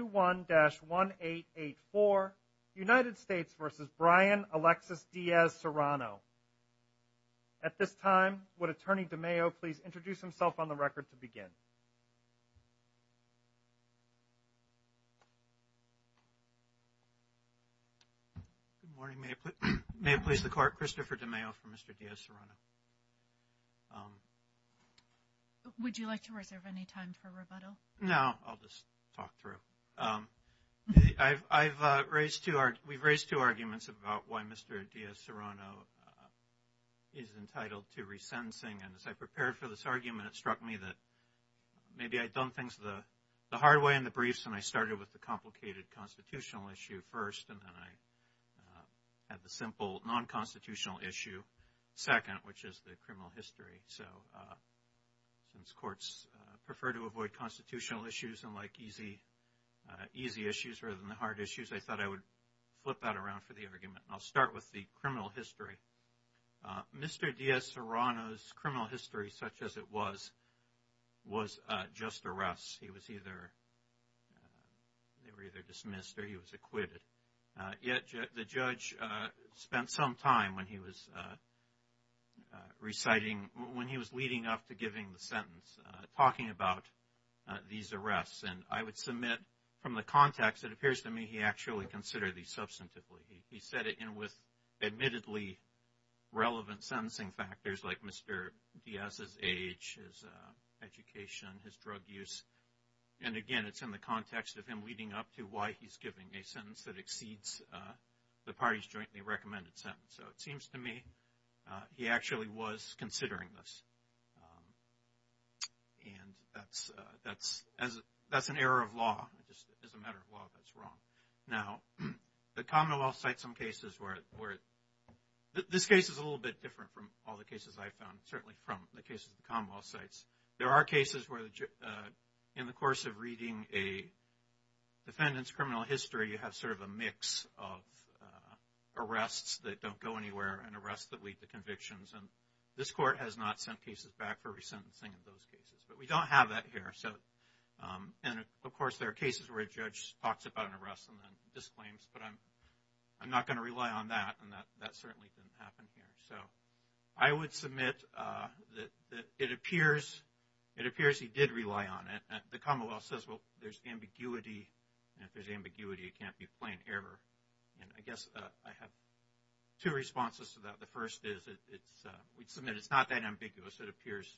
21-1884, United States v. Brian Alexis Diaz-Serrano. At this time, would Attorney DeMayo please introduce himself on the record to begin? Good morning. May it please the Court, Christopher DeMayo for Mr. Diaz-Serrano. Would you like to reserve any time for rebuttal? No, I'll just talk through. We've raised two arguments about why Mr. Diaz-Serrano is entitled to resentencing, and as I prepared for this argument, it struck me that maybe I'd done things the hard way in the briefs, and I started with the complicated constitutional issue first, and then I had the simple non-constitutional issue second, which is the criminal history. So, since courts prefer to avoid constitutional issues and like easy issues rather than the hard issues, I thought I would flip that around for the argument. I'll start with the criminal history. Mr. Diaz-Serrano's criminal history, such as it was, was just arrests. He was either dismissed or he was acquitted. Yet, the judge spent some time when he was reciting, when he was leading up to giving the sentence, talking about these arrests. And I would submit, from the context, it appears to me he actually considered these substantively. He set it in with admittedly relevant sentencing factors like Mr. Diaz's age, his education, his drug use. And again, it's in the context of him leading up to why he's giving a sentence that seems to me he actually was considering this. And that's an error of law. It's a matter of law that's wrong. Now, the Commonwealth cites some cases where, this case is a little bit different from all the cases I found, certainly from the cases the Commonwealth cites. There are cases where in the course of reading a defendant's criminal history, you have sort of a mix of and arrests that lead to convictions. And this court has not sent cases back for resentencing in those cases. But we don't have that here. And of course, there are cases where a judge talks about an arrest and then disclaims. But I'm not going to rely on that. And that certainly didn't happen here. So I would submit that it appears he did rely on it. The Commonwealth says, well, there's ambiguity. And if there's ambiguity, it can't be plain error. And I guess I have two responses to that. The first is, we'd submit it's not that ambiguous. It appears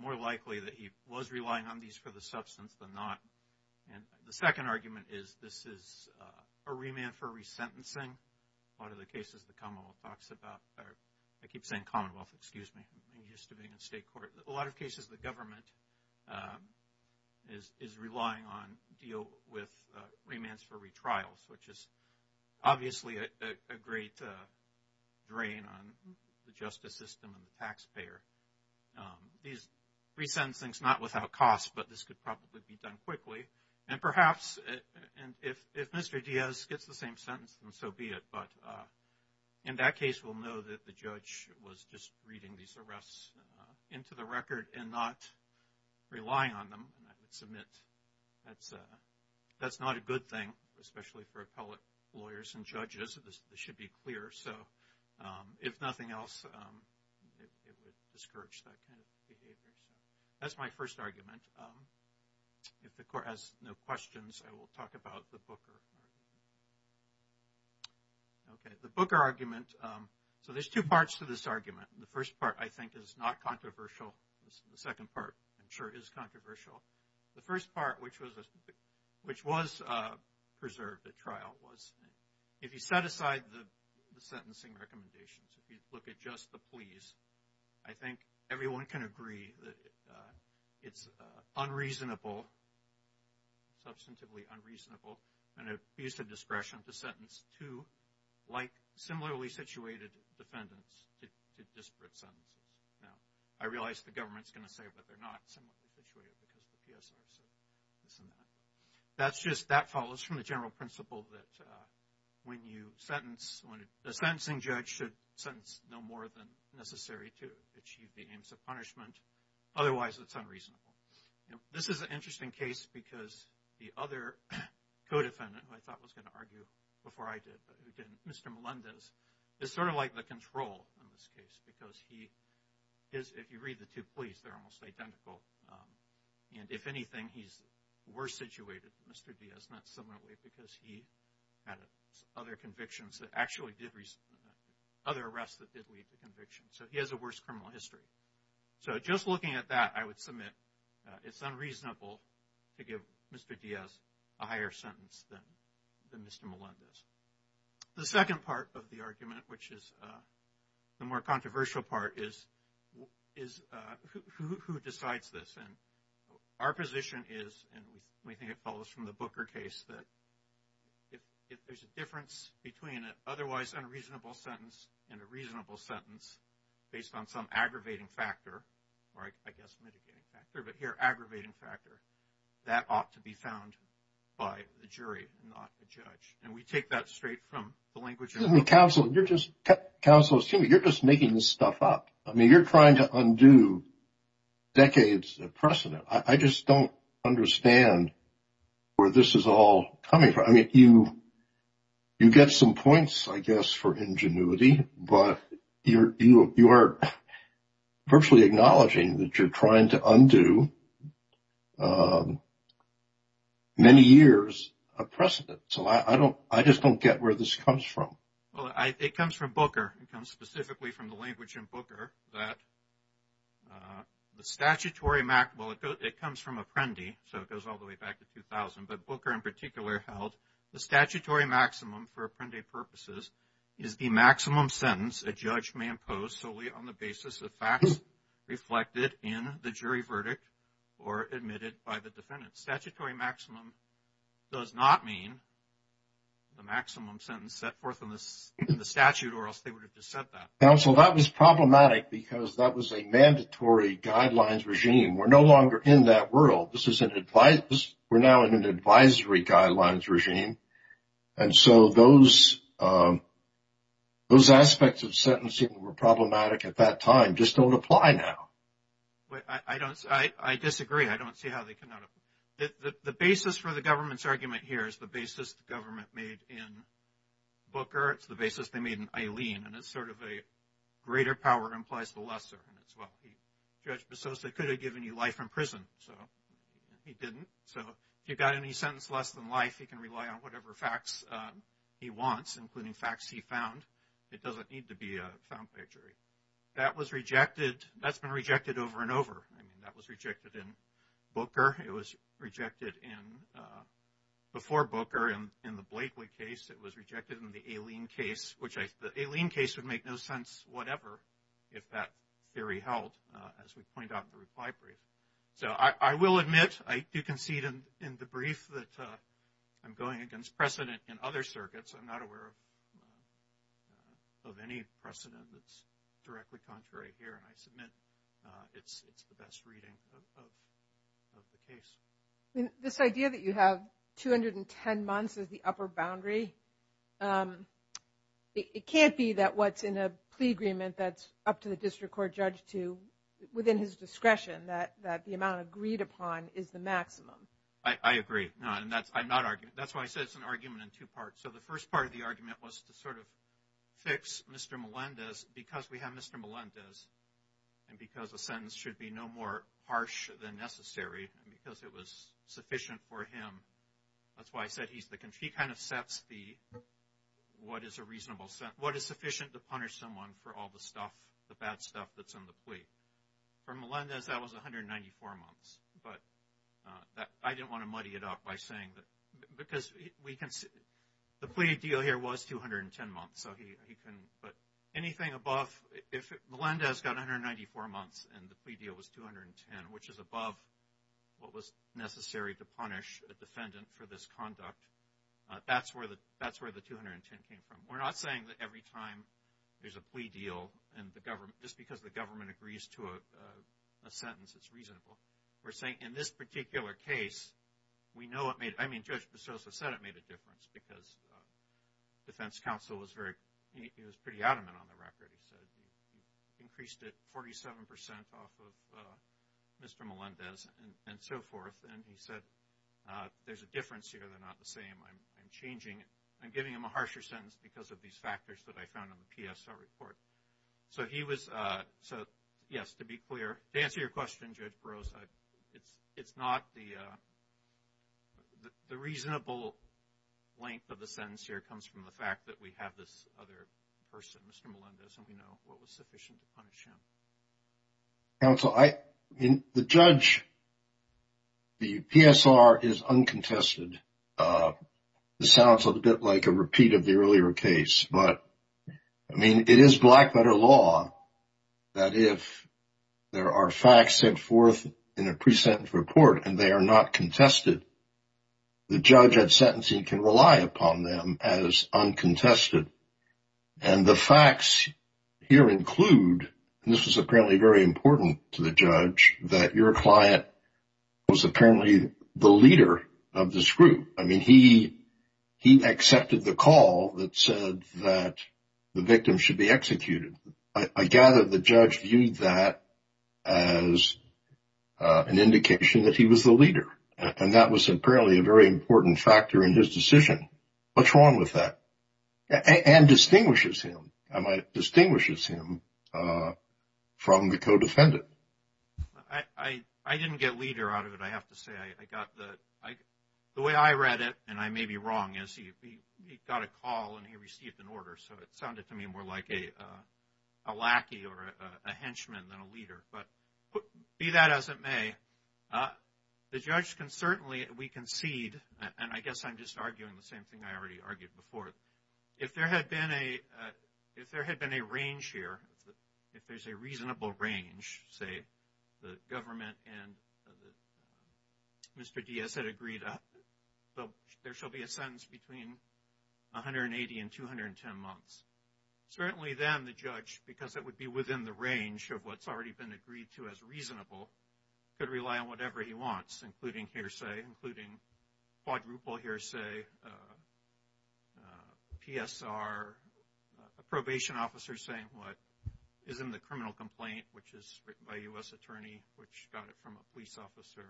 more likely that he was relying on these for the substance than not. And the second argument is, this is a remand for resentencing. A lot of the cases the Commonwealth talks about, I keep saying Commonwealth, excuse me. I'm used to being in state court. A lot of obviously, a great drain on the justice system and the taxpayer. These resentencings, not without cost, but this could probably be done quickly. And perhaps, if Mr. Diaz gets the same sentence, then so be it. But in that case, we'll know that the judge was just reading these arrests into the record and not relying on them. And I would especially for appellate lawyers and judges, this should be clear. So if nothing else, it would discourage that kind of behavior. So that's my first argument. If the court has no questions, I will talk about the Booker. Okay, the Booker argument. So there's two parts to this argument. The first part, I think, is not controversial. The second part, I'm sure, is controversial. The first part, which was preserved at trial, was if you set aside the sentencing recommendations, if you look at just the pleas, I think everyone can agree that it's unreasonable, substantively unreasonable, and abused of discretion to sentence two, like similarly situated defendants, to disparate sentences. Now, I realize the government's going to say that they're not similarly situated because of the PSR, so this and that. That's just, that follows from the general principle that when you sentence, the sentencing judge should sentence no more than necessary to achieve the aims of punishment. Otherwise, it's unreasonable. This is an interesting case because the other co-defendant, who I thought was going to argue before I did, but who didn't, Mr. Melendez, is sort of like the control in this case because he is, if you read the two pleas, they're almost identical. And if anything, he's worse situated than Mr. Diaz, not similarly, because he had other convictions that actually did, other arrests that did lead to conviction. So, he has a worse criminal history. So, just looking at that, I would submit it's unreasonable to give Mr. Diaz a higher sentence than Mr. Melendez. The second part of the argument, which is the more controversial part, is who decides this. And our position is, and we think it follows from the Booker case, that if there's a difference between an otherwise unreasonable sentence and a reasonable sentence based on some aggravating factor, or I guess mitigating factor, but here aggravating factor, that ought to be found by the jury, not the judge. And we take that straight from the language. Counsel, you're just making this stuff up. I mean, you're trying to undo decades of precedent. I just don't understand where this is all coming from. I mean, you get some points, I guess, for ingenuity, but you are virtually acknowledging that you're trying to undo many years of precedent. So, I just don't get where this comes from. Well, it comes from Booker. It comes specifically from the language in Booker that the statutory, well, it comes from Apprendi. So, it goes all the way back to 2000. But Booker, in particular, held the statutory maximum for Apprendi purposes is the maximum sentence a or admitted by the defendant. Statutory maximum does not mean the maximum sentence set forth in the statute or else they would have just said that. Counsel, that was problematic because that was a mandatory guidelines regime. We're no longer in that world. We're now in an advisory guidelines regime. And so, those aspects of sentencing that were problematic at that time just don't apply now. I disagree. I don't see how they cannot apply. The basis for the government's argument here is the basis the government made in Booker. It's the basis they made in Eileen. And it's sort of a greater power implies the lesser. And it's, well, Judge Bessos could have given you life in prison. So, he didn't. So, if you got any sentence less than life, he can rely on whatever facts he wants, including facts he found. It doesn't need to be a found plagiary. That was rejected. That's been rejected over and over. I mean, that was rejected in Booker. It was rejected in, before Booker in the Blakely case. It was rejected in the Eileen case, which the Eileen case would make no sense whatever if that theory held, as we point out in the reply brief. So, I will admit, I do concede in the brief that I'm going against precedent in other circuits. I'm not aware of any precedent that's directly contrary here. And I submit it's the best reading of the case. I mean, this idea that you have 210 months as the upper boundary, it can't be that what's in a plea agreement that's up to the district court judge to, within his discretion, that the amount agreed upon is the maximum. I agree. No, and that's, I'm not arguing, that's why I said it's an argument in two parts. So, the first part of the argument was to sort of fix Mr. Melendez, because we have Mr. Melendez, and because a sentence should be no more harsh than necessary, and because it was sufficient for him. That's why I said he's the, he kind of sets the, what is a reasonable, what is sufficient to punish someone for all the stuff, the bad stuff that's in the plea. For Melendez, that was 194 months, but I didn't want to muddy it up by saying that, because we can, the plea deal here was 210 months, so he can, but anything above, if Melendez got 194 months and the plea deal was 210, which is above what was necessary to punish a defendant for this conduct, that's where the 210 came from. We're not saying that every time there's a plea deal and the government, just because the government agrees to a sentence, it's reasonable. We're saying, in this particular case, we know it made, I mean, Judge Beroso said it made a difference, because defense counsel was very, he was pretty adamant on the record. He said he increased it 47 percent off of Mr. Melendez and so forth, and he said, there's a difference here, they're not the same, I'm changing, I'm giving him a harsher sentence because of these factors that I found in the PSL report. So, he was, so yes, to be clear, to answer your question, Judge Beroso, it's not the, the reasonable length of the sentence here comes from the fact that we have this other person, Mr. Melendez, and we know what was sufficient to punish him. Counsel, I, I mean, the judge, the PSR is uncontested. It sounds a bit like a repeat of the earlier case, but, I mean, it is black letter law that if there are facts set forth in a pre-sentence report and they are not contested, the judge at sentencing can rely upon them as uncontested, and the facts here include, and this was apparently very important to the judge, that your client was apparently the leader of this group. I mean, he, he accepted the call that said that the victim should be executed. I, I gather the judge viewed that as an indication that he was the leader, and that was apparently a very important factor in his decision. What's wrong with that? And distinguishes him, distinguishes him from the co-defendant. I, I, I didn't get leader out of it, I have to say. I, I got the, I, the way I read it, and I may be wrong, is he, he got a call and he received an order, so it sounded to me more like a, a lackey or a henchman than a leader, but be that as it may, the judge can certainly, we concede, and I guess I'm just arguing the same thing I already argued before, if there had been a, if there had been a range here, if there's a reasonable range, say, the government and Mr. Diaz had agreed, there shall be a sentence between 180 and 210 months. Certainly then the judge, because it would be within the range of what's already been quadruple hearsay, PSR, a probation officer saying what is in the criminal complaint, which is written by a U.S. attorney, which got it from a police officer,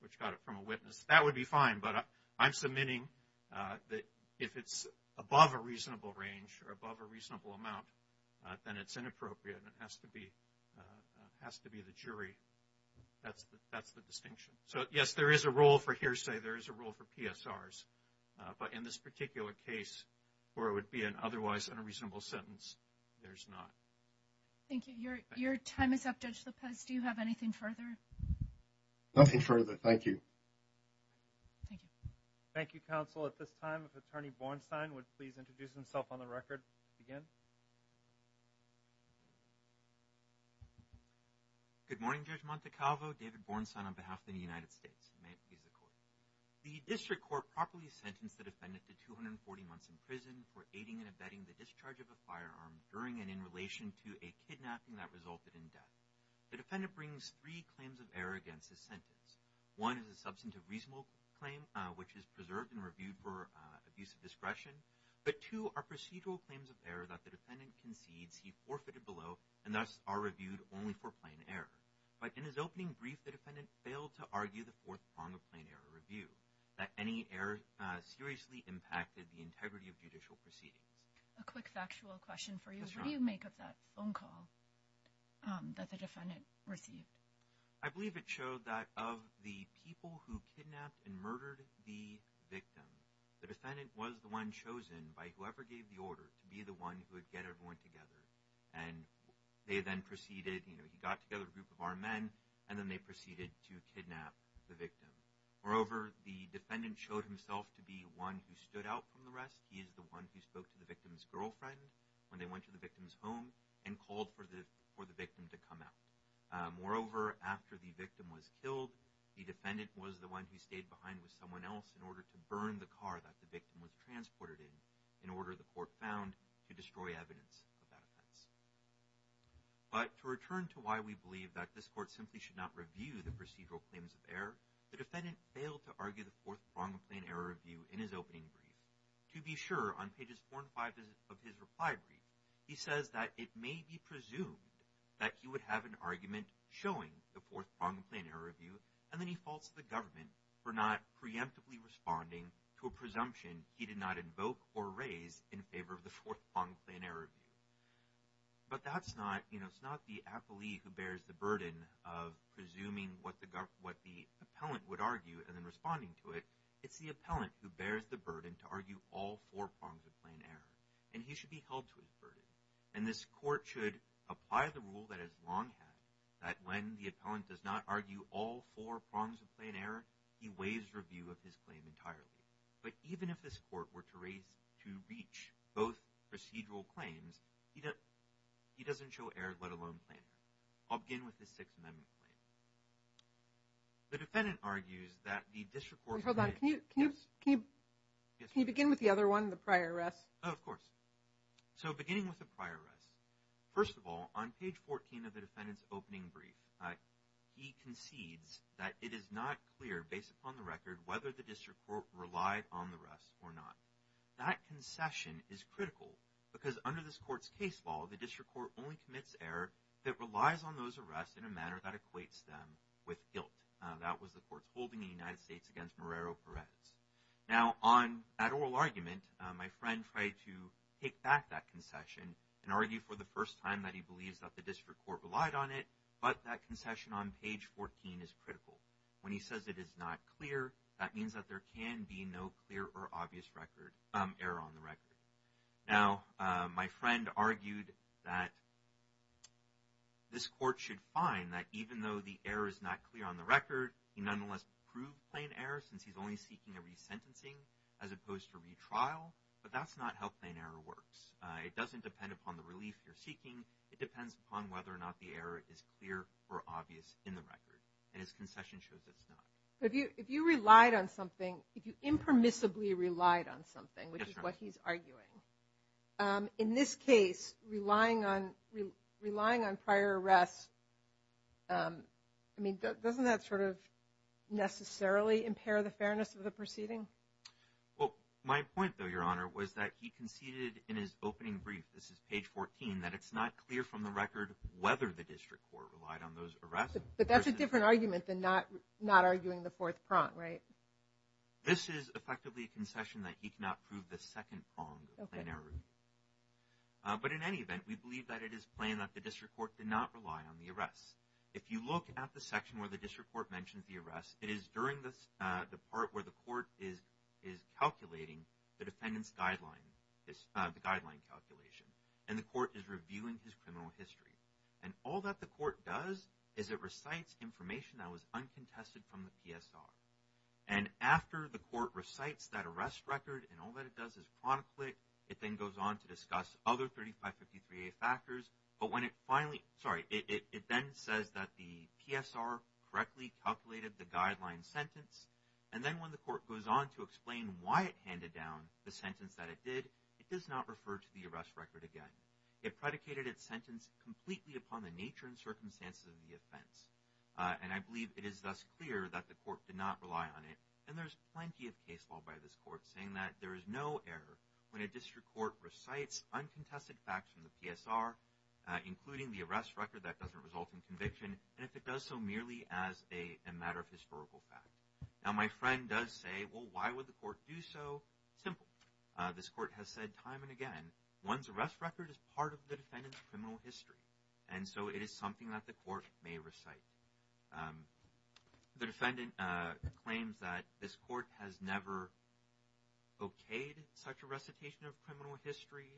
which got it from a witness, that would be fine, but I'm submitting that if it's above a reasonable range or above a reasonable amount, then it's inappropriate and it has to be, it has to be the jury. That's the distinction. So yes, there is a role for hearsay, there is a role for PSRs, but in this particular case where it would be an otherwise unreasonable sentence, there's not. Thank you. Your time is up, Judge Lopez. Do you have anything further? Nothing further. Thank you. Thank you. Thank you, counsel. At this time, if Attorney Bornstein would please introduce himself on the record again. Good morning, Judge Montecalvo. David Bornstein on behalf of the United States. May it please the Court. The District Court properly sentenced the defendant to 240 months in prison for aiding and abetting the discharge of a firearm during and in relation to a kidnapping that resulted in death. The defendant brings three claims of error against this sentence. One is a substantive reasonable claim, which is preserved and reviewed for abuse of discretion. But two are procedural claims of error that the defendant concedes he forfeited below and thus are reviewed only for plain error. But in his opening brief, the defendant failed to argue the fourth prong of plain error review, that any error seriously impacted the integrity of judicial proceedings. A quick factual question for you. What do you make of that phone call that the defendant received? I believe it showed that of the people who kidnapped and murdered the victim, the defendant was the one chosen by whoever gave the order to be the one who would get everyone together. And they then proceeded, you know, he got together a group of armed men, and then they proceeded to kidnap the victim. Moreover, the defendant showed himself to be one who stood out from the rest. He is the one who spoke to the victim's girlfriend when they went to the victim's home and called for the for the one who stayed behind with someone else in order to burn the car that the victim was transported in, in order, the court found, to destroy evidence of that offense. But to return to why we believe that this court simply should not review the procedural claims of error, the defendant failed to argue the fourth prong of plain error review in his opening brief. To be sure, on pages four and five of his reply brief, he says that it may be presumed that he would have an argument showing the fourth prong of plain error review, and then he faults the government for not preemptively responding to a presumption he did not invoke or raise in favor of the fourth prong of plain error review. But that's not, you know, it's not the appellee who bears the burden of presuming what the government, what the appellant would argue and then responding to it. It's the appellant who bears the burden to argue all four prongs of plain error, and he should be that when the appellant does not argue all four prongs of plain error, he weighs review of his claim entirely. But even if this court were to reach both procedural claims, he doesn't show error, let alone plain error. I'll begin with the Sixth Amendment claim. The defendant argues that the district court... Hold on, can you begin with the other one, the prior arrest? Oh, of course. So, beginning with the prior arrest. First of all, on page 14 of the defendant's opening brief, he concedes that it is not clear, based upon the record, whether the district court relied on the arrest or not. That concession is critical because under this court's case law, the district court only commits error that relies on those arrests in a manner that equates them with guilt. That was the court's holding in the United States against Marrero-Perez. Now, on that oral argument, my take back that concession and argue for the first time that he believes that the district court relied on it, but that concession on page 14 is critical. When he says it is not clear, that means that there can be no clear or obvious record, error on the record. Now, my friend argued that this court should find that even though the error is not clear on the record, he nonetheless proved plain error since he's only seeking a resentencing as opposed to retrial, but that's not how plain error works. It doesn't depend upon the relief you're seeking. It depends upon whether or not the error is clear or obvious in the record, and his concession shows it's not. If you relied on something, if you impermissibly relied on something, which is what he's arguing, in this case, relying on prior arrests, I mean, doesn't that sort of necessarily impair the in his opening brief, this is page 14, that it's not clear from the record whether the district court relied on those arrests? But that's a different argument than not arguing the fourth prong, right? This is effectively a concession that he cannot prove the second prong of plain error, but in any event, we believe that it is plain that the district court did not rely on the arrests. If you look at the section where the district court mentions the arrests, it is during the part where the court is calculating the defendant's guideline, the guideline calculation, and the court is reviewing his criminal history, and all that the court does is it recites information that was uncontested from the PSR, and after the court recites that arrest record, and all that it does is chronicle it, it then goes on to discuss other 3553a factors, but when it finally, sorry, it then says that the PSR correctly calculated the guideline sentence, and then when the court goes on to explain why it handed down the sentence that it did, it does not refer to the arrest record again. It predicated its sentence completely upon the nature and circumstances of the offense, and I believe it is thus clear that the court did not rely on it, and there's plenty of case law by this court saying that there is no error when a district court recites uncontested facts from the PSR, including the arrest record that doesn't result in conviction, and if it does so, merely as a matter of historical fact. Now, my friend does say, well, why would the court do so? Simple. This court has said time and again, one's arrest record is part of the defendant's criminal history, and so it is something that the court may recite. The defendant claims that this court has never okayed such a recitation of criminal history,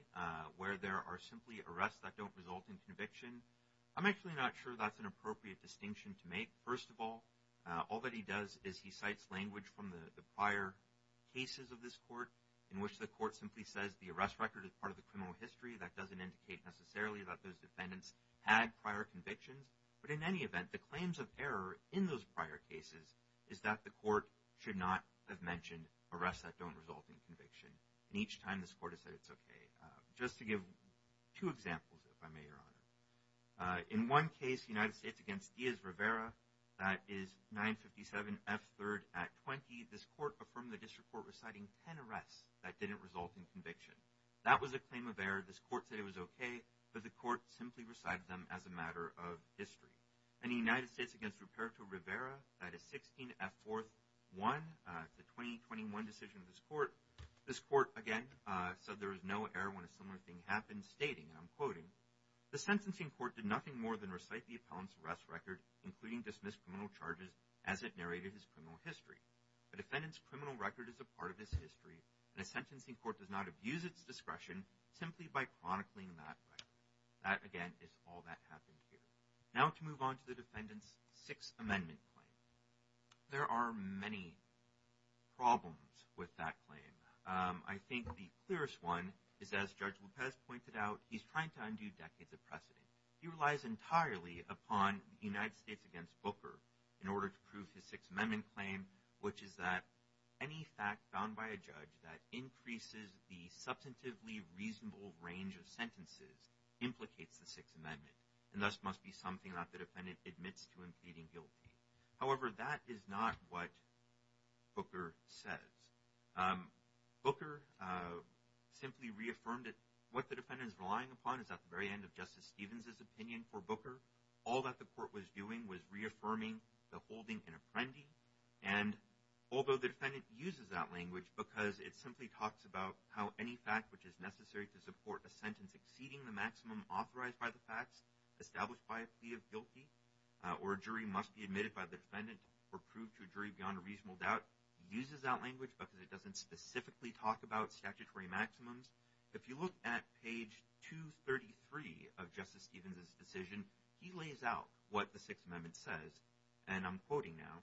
where there are simply arrests that don't result in conviction. I'm actually not sure that's an appropriate distinction to make. First of all, all that he does is he cites language from the prior cases of this court, in which the court simply says the arrest record is part of the criminal history. That doesn't indicate necessarily that those defendants had prior convictions, but in any event, the claims of error in those prior cases is that the court should not have mentioned arrests that don't result in conviction, and each time this court has said it's okay. Just to give two examples, if I may, your honor. In one case, United States against Diaz Rivera, that is 957 F3rd at 20, this court affirmed the district court reciting 10 arrests that didn't result in conviction. That was a claim of error. This court simply recited them as a matter of history. In the United States against Ruperto Rivera, that is 16 F4th 1, the 2021 decision of this court, this court again said there was no error when a similar thing happened, stating, and I'm quoting, the sentencing court did nothing more than recite the appellant's arrest record, including dismissed criminal charges, as it narrated his criminal history. The defendant's criminal record is a part of this history, and a sentencing court does not abuse its discretion simply by chronicling that record. That, again, is all that happened here. Now to move on to the defendant's Sixth Amendment claim. There are many problems with that claim. I think the clearest one is, as Judge Lopez pointed out, he's trying to undo decades of precedent. He relies entirely upon United States against Booker in order to prove his Sixth Amendment claim, which is that any fact found by a judge that increases the substantively reasonable range of sentences implicates the Sixth Amendment, and thus must be something that the defendant admits to him pleading guilty. However, that is not what Booker says. Booker simply reaffirmed it. What the defendant is relying upon is at the very end of Justice Stevens's opinion for Booker. All that the defendant uses that language because it simply talks about how any fact which is necessary to support a sentence exceeding the maximum authorized by the facts established by a plea of guilty, or a jury must be admitted by the defendant or proved to a jury beyond a reasonable doubt, uses that language because it doesn't specifically talk about statutory maximums. If you look at page 233 of Justice Stevens's decision, he lays out what the Sixth Amendment says, and I'm quoting now,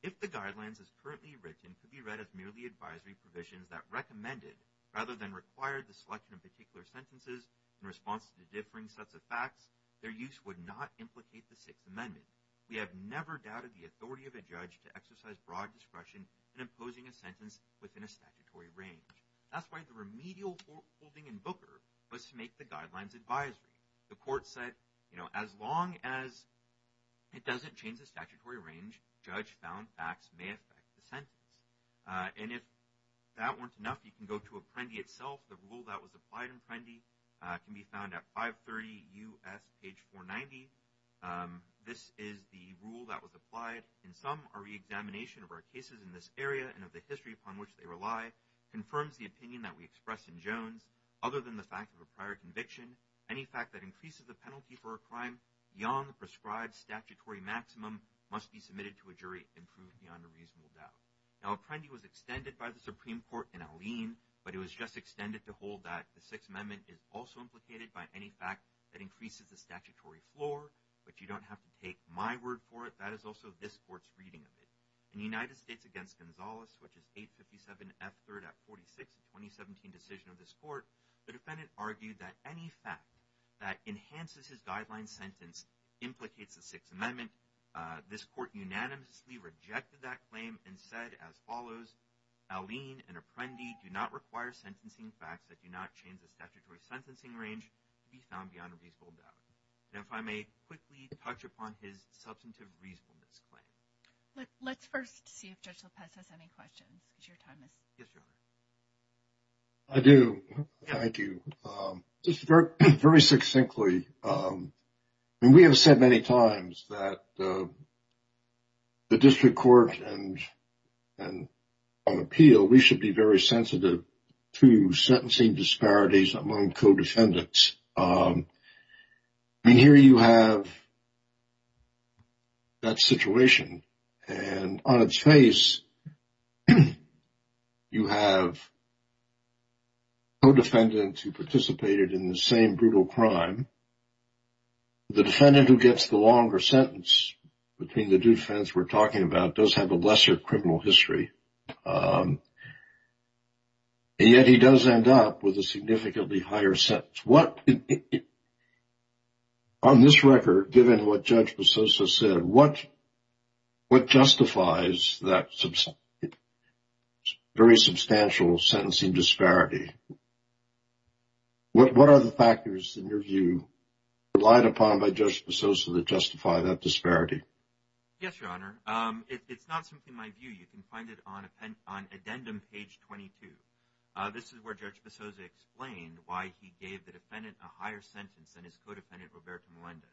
if the guidelines as currently written could be read as merely advisory provisions that recommended rather than required the selection of particular sentences in response to the differing sets of facts, their use would not implicate the Sixth Amendment. We have never doubted the authority of a judge to exercise broad discretion in imposing a sentence within a statutory range. That's why the remedial holding in Booker was to make the guidelines advisory. The court said, you know, as long as it doesn't change the statutory range, judge found facts may affect the sentence. And if that weren't enough, you can go to Apprendi itself. The rule that was applied in Apprendi can be found at 530 U.S. page 490. This is the rule that was applied. In some, a re-examination of our cases in this area and of the history upon which they rely confirms the opinion that we express in Jones other than the fact of a prior conviction. Any fact that increases the penalty for a crime beyond the prescribed statutory maximum must be submitted to a jury and proved beyond a reasonable doubt. Now, Apprendi was extended by the Supreme Court in Alene, but it was just extended to hold that the Sixth Amendment is also implicated by any fact that increases the statutory floor, but you don't have to take my word for it. That is also this court's reading of it. In the United States against Gonzalez, which is 857 F3rd Act 46, 2017 decision of this court, the defendant argued that any fact that enhances his guideline sentence implicates the Sixth Amendment. This court unanimously rejected that claim and said as follows, Alene and Apprendi do not require sentencing facts that do not change the statutory sentencing range to be found beyond a reasonable doubt. And if I may quickly touch on his substantive reasonable misclaim. Let's first see if Judge Lopez has any questions. I do. Thank you. Just very, very succinctly. We have said many times that the district court and on appeal, we should be very sensitive to sentencing disparities among co-defendants. I mean, here you have that situation and on its face you have co-defendants who participated in the same brutal crime. The defendant who gets the longer sentence between the two defense we're talking about does have a lesser criminal history. And yet he does end up with a significantly higher sentence. What on this record, given what Judge Pososo said, what justifies that very substantial sentencing disparity? What are the factors in your view relied upon by Judge Pososo that justify that disparity? Yes, Your Honor. It's not something in my view. You can find it on addendum page 22. This is where Judge Pososo explained why he gave the defendant a higher sentence than his co-defendant, Roberto Melendez.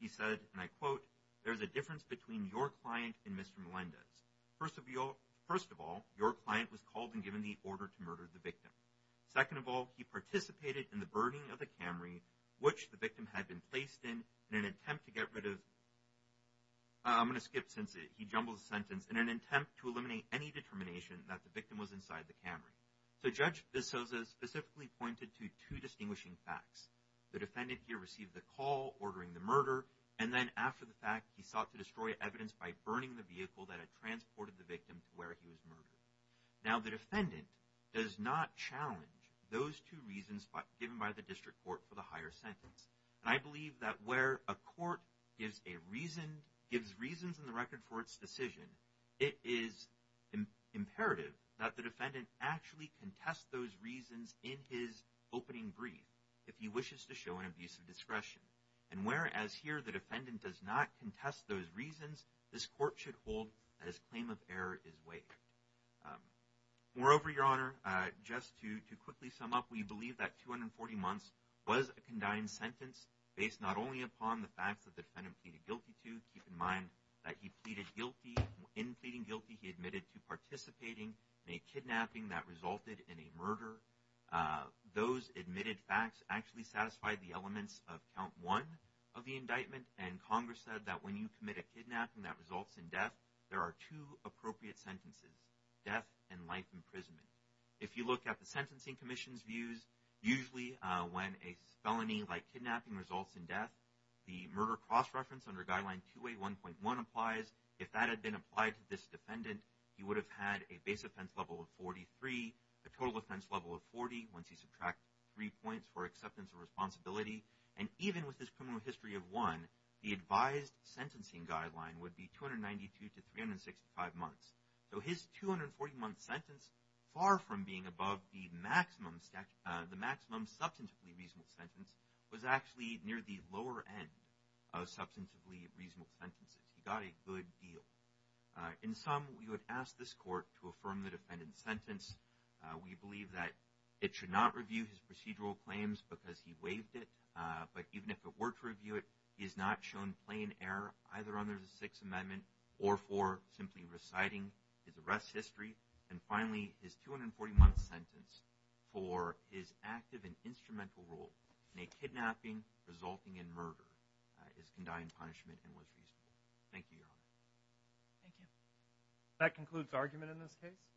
He said, and I quote, there's a difference between your client and Mr. Melendez. First of all, your client was called and given the order to murder the victim. Second of all, he participated in the burning of the Camry, which the victim had been placed in, in an attempt to get rid of, I'm going to skip since he jumbled the sentence, in an attempt to eliminate any determination that the victim was inside the Camry. So Judge Pososo specifically pointed to two distinguishing facts. The defendant here received the call ordering the murder. And then after the fact, he sought to destroy evidence by burning the vehicle that had transported the victim to where he was murdered. Now the defendant does not challenge those two reasons given by the district court for the higher sentence. And I believe that where a court gives a reason, gives reasons in the record for its decision, it is imperative that the defendant actually contest those reasons in his opening brief, if he wishes to show an abuse of discretion. And whereas here the defendant does not contest those reasons, this court should hold that his claim of error is weight. Moreover, your honor, just to quickly sum up, we believe that 240 months was a condemned sentence based not only upon the facts that the defendant pleaded guilty to, keep in mind that he pleaded guilty, in pleading guilty, he admitted to participating in a kidnapping that resulted in a murder. Those admitted facts actually satisfied the elements of count one of the indictment. And Congress said that when you commit a kidnapping that results in death, there are two appropriate sentences, death and life imprisonment. If you look at the a felony like kidnapping results in death, the murder cross-reference under guideline 281.1 applies. If that had been applied to this defendant, he would have had a base offense level of 43, a total offense level of 40, once you subtract three points for acceptance and responsibility. And even with this criminal history of one, the advised sentencing guideline would be 292 to 365 months. So his 240 month sentence, far from being above the maximum substantively reasonable sentence, was actually near the lower end of substantively reasonable sentences. He got a good deal. In sum, we would ask this court to affirm the defendant's sentence. We believe that it should not review his procedural claims because he waived it. But even if it were to review it, he is not shown plain error, either under the sixth amendment or for simply reciting his arrest history. And finally, his 240 month sentence for his active and instrumental role in a kidnapping resulting in murder is condemned punishment and was reasonable. Thank you, Your Honor. Thank you. That concludes argument in this case.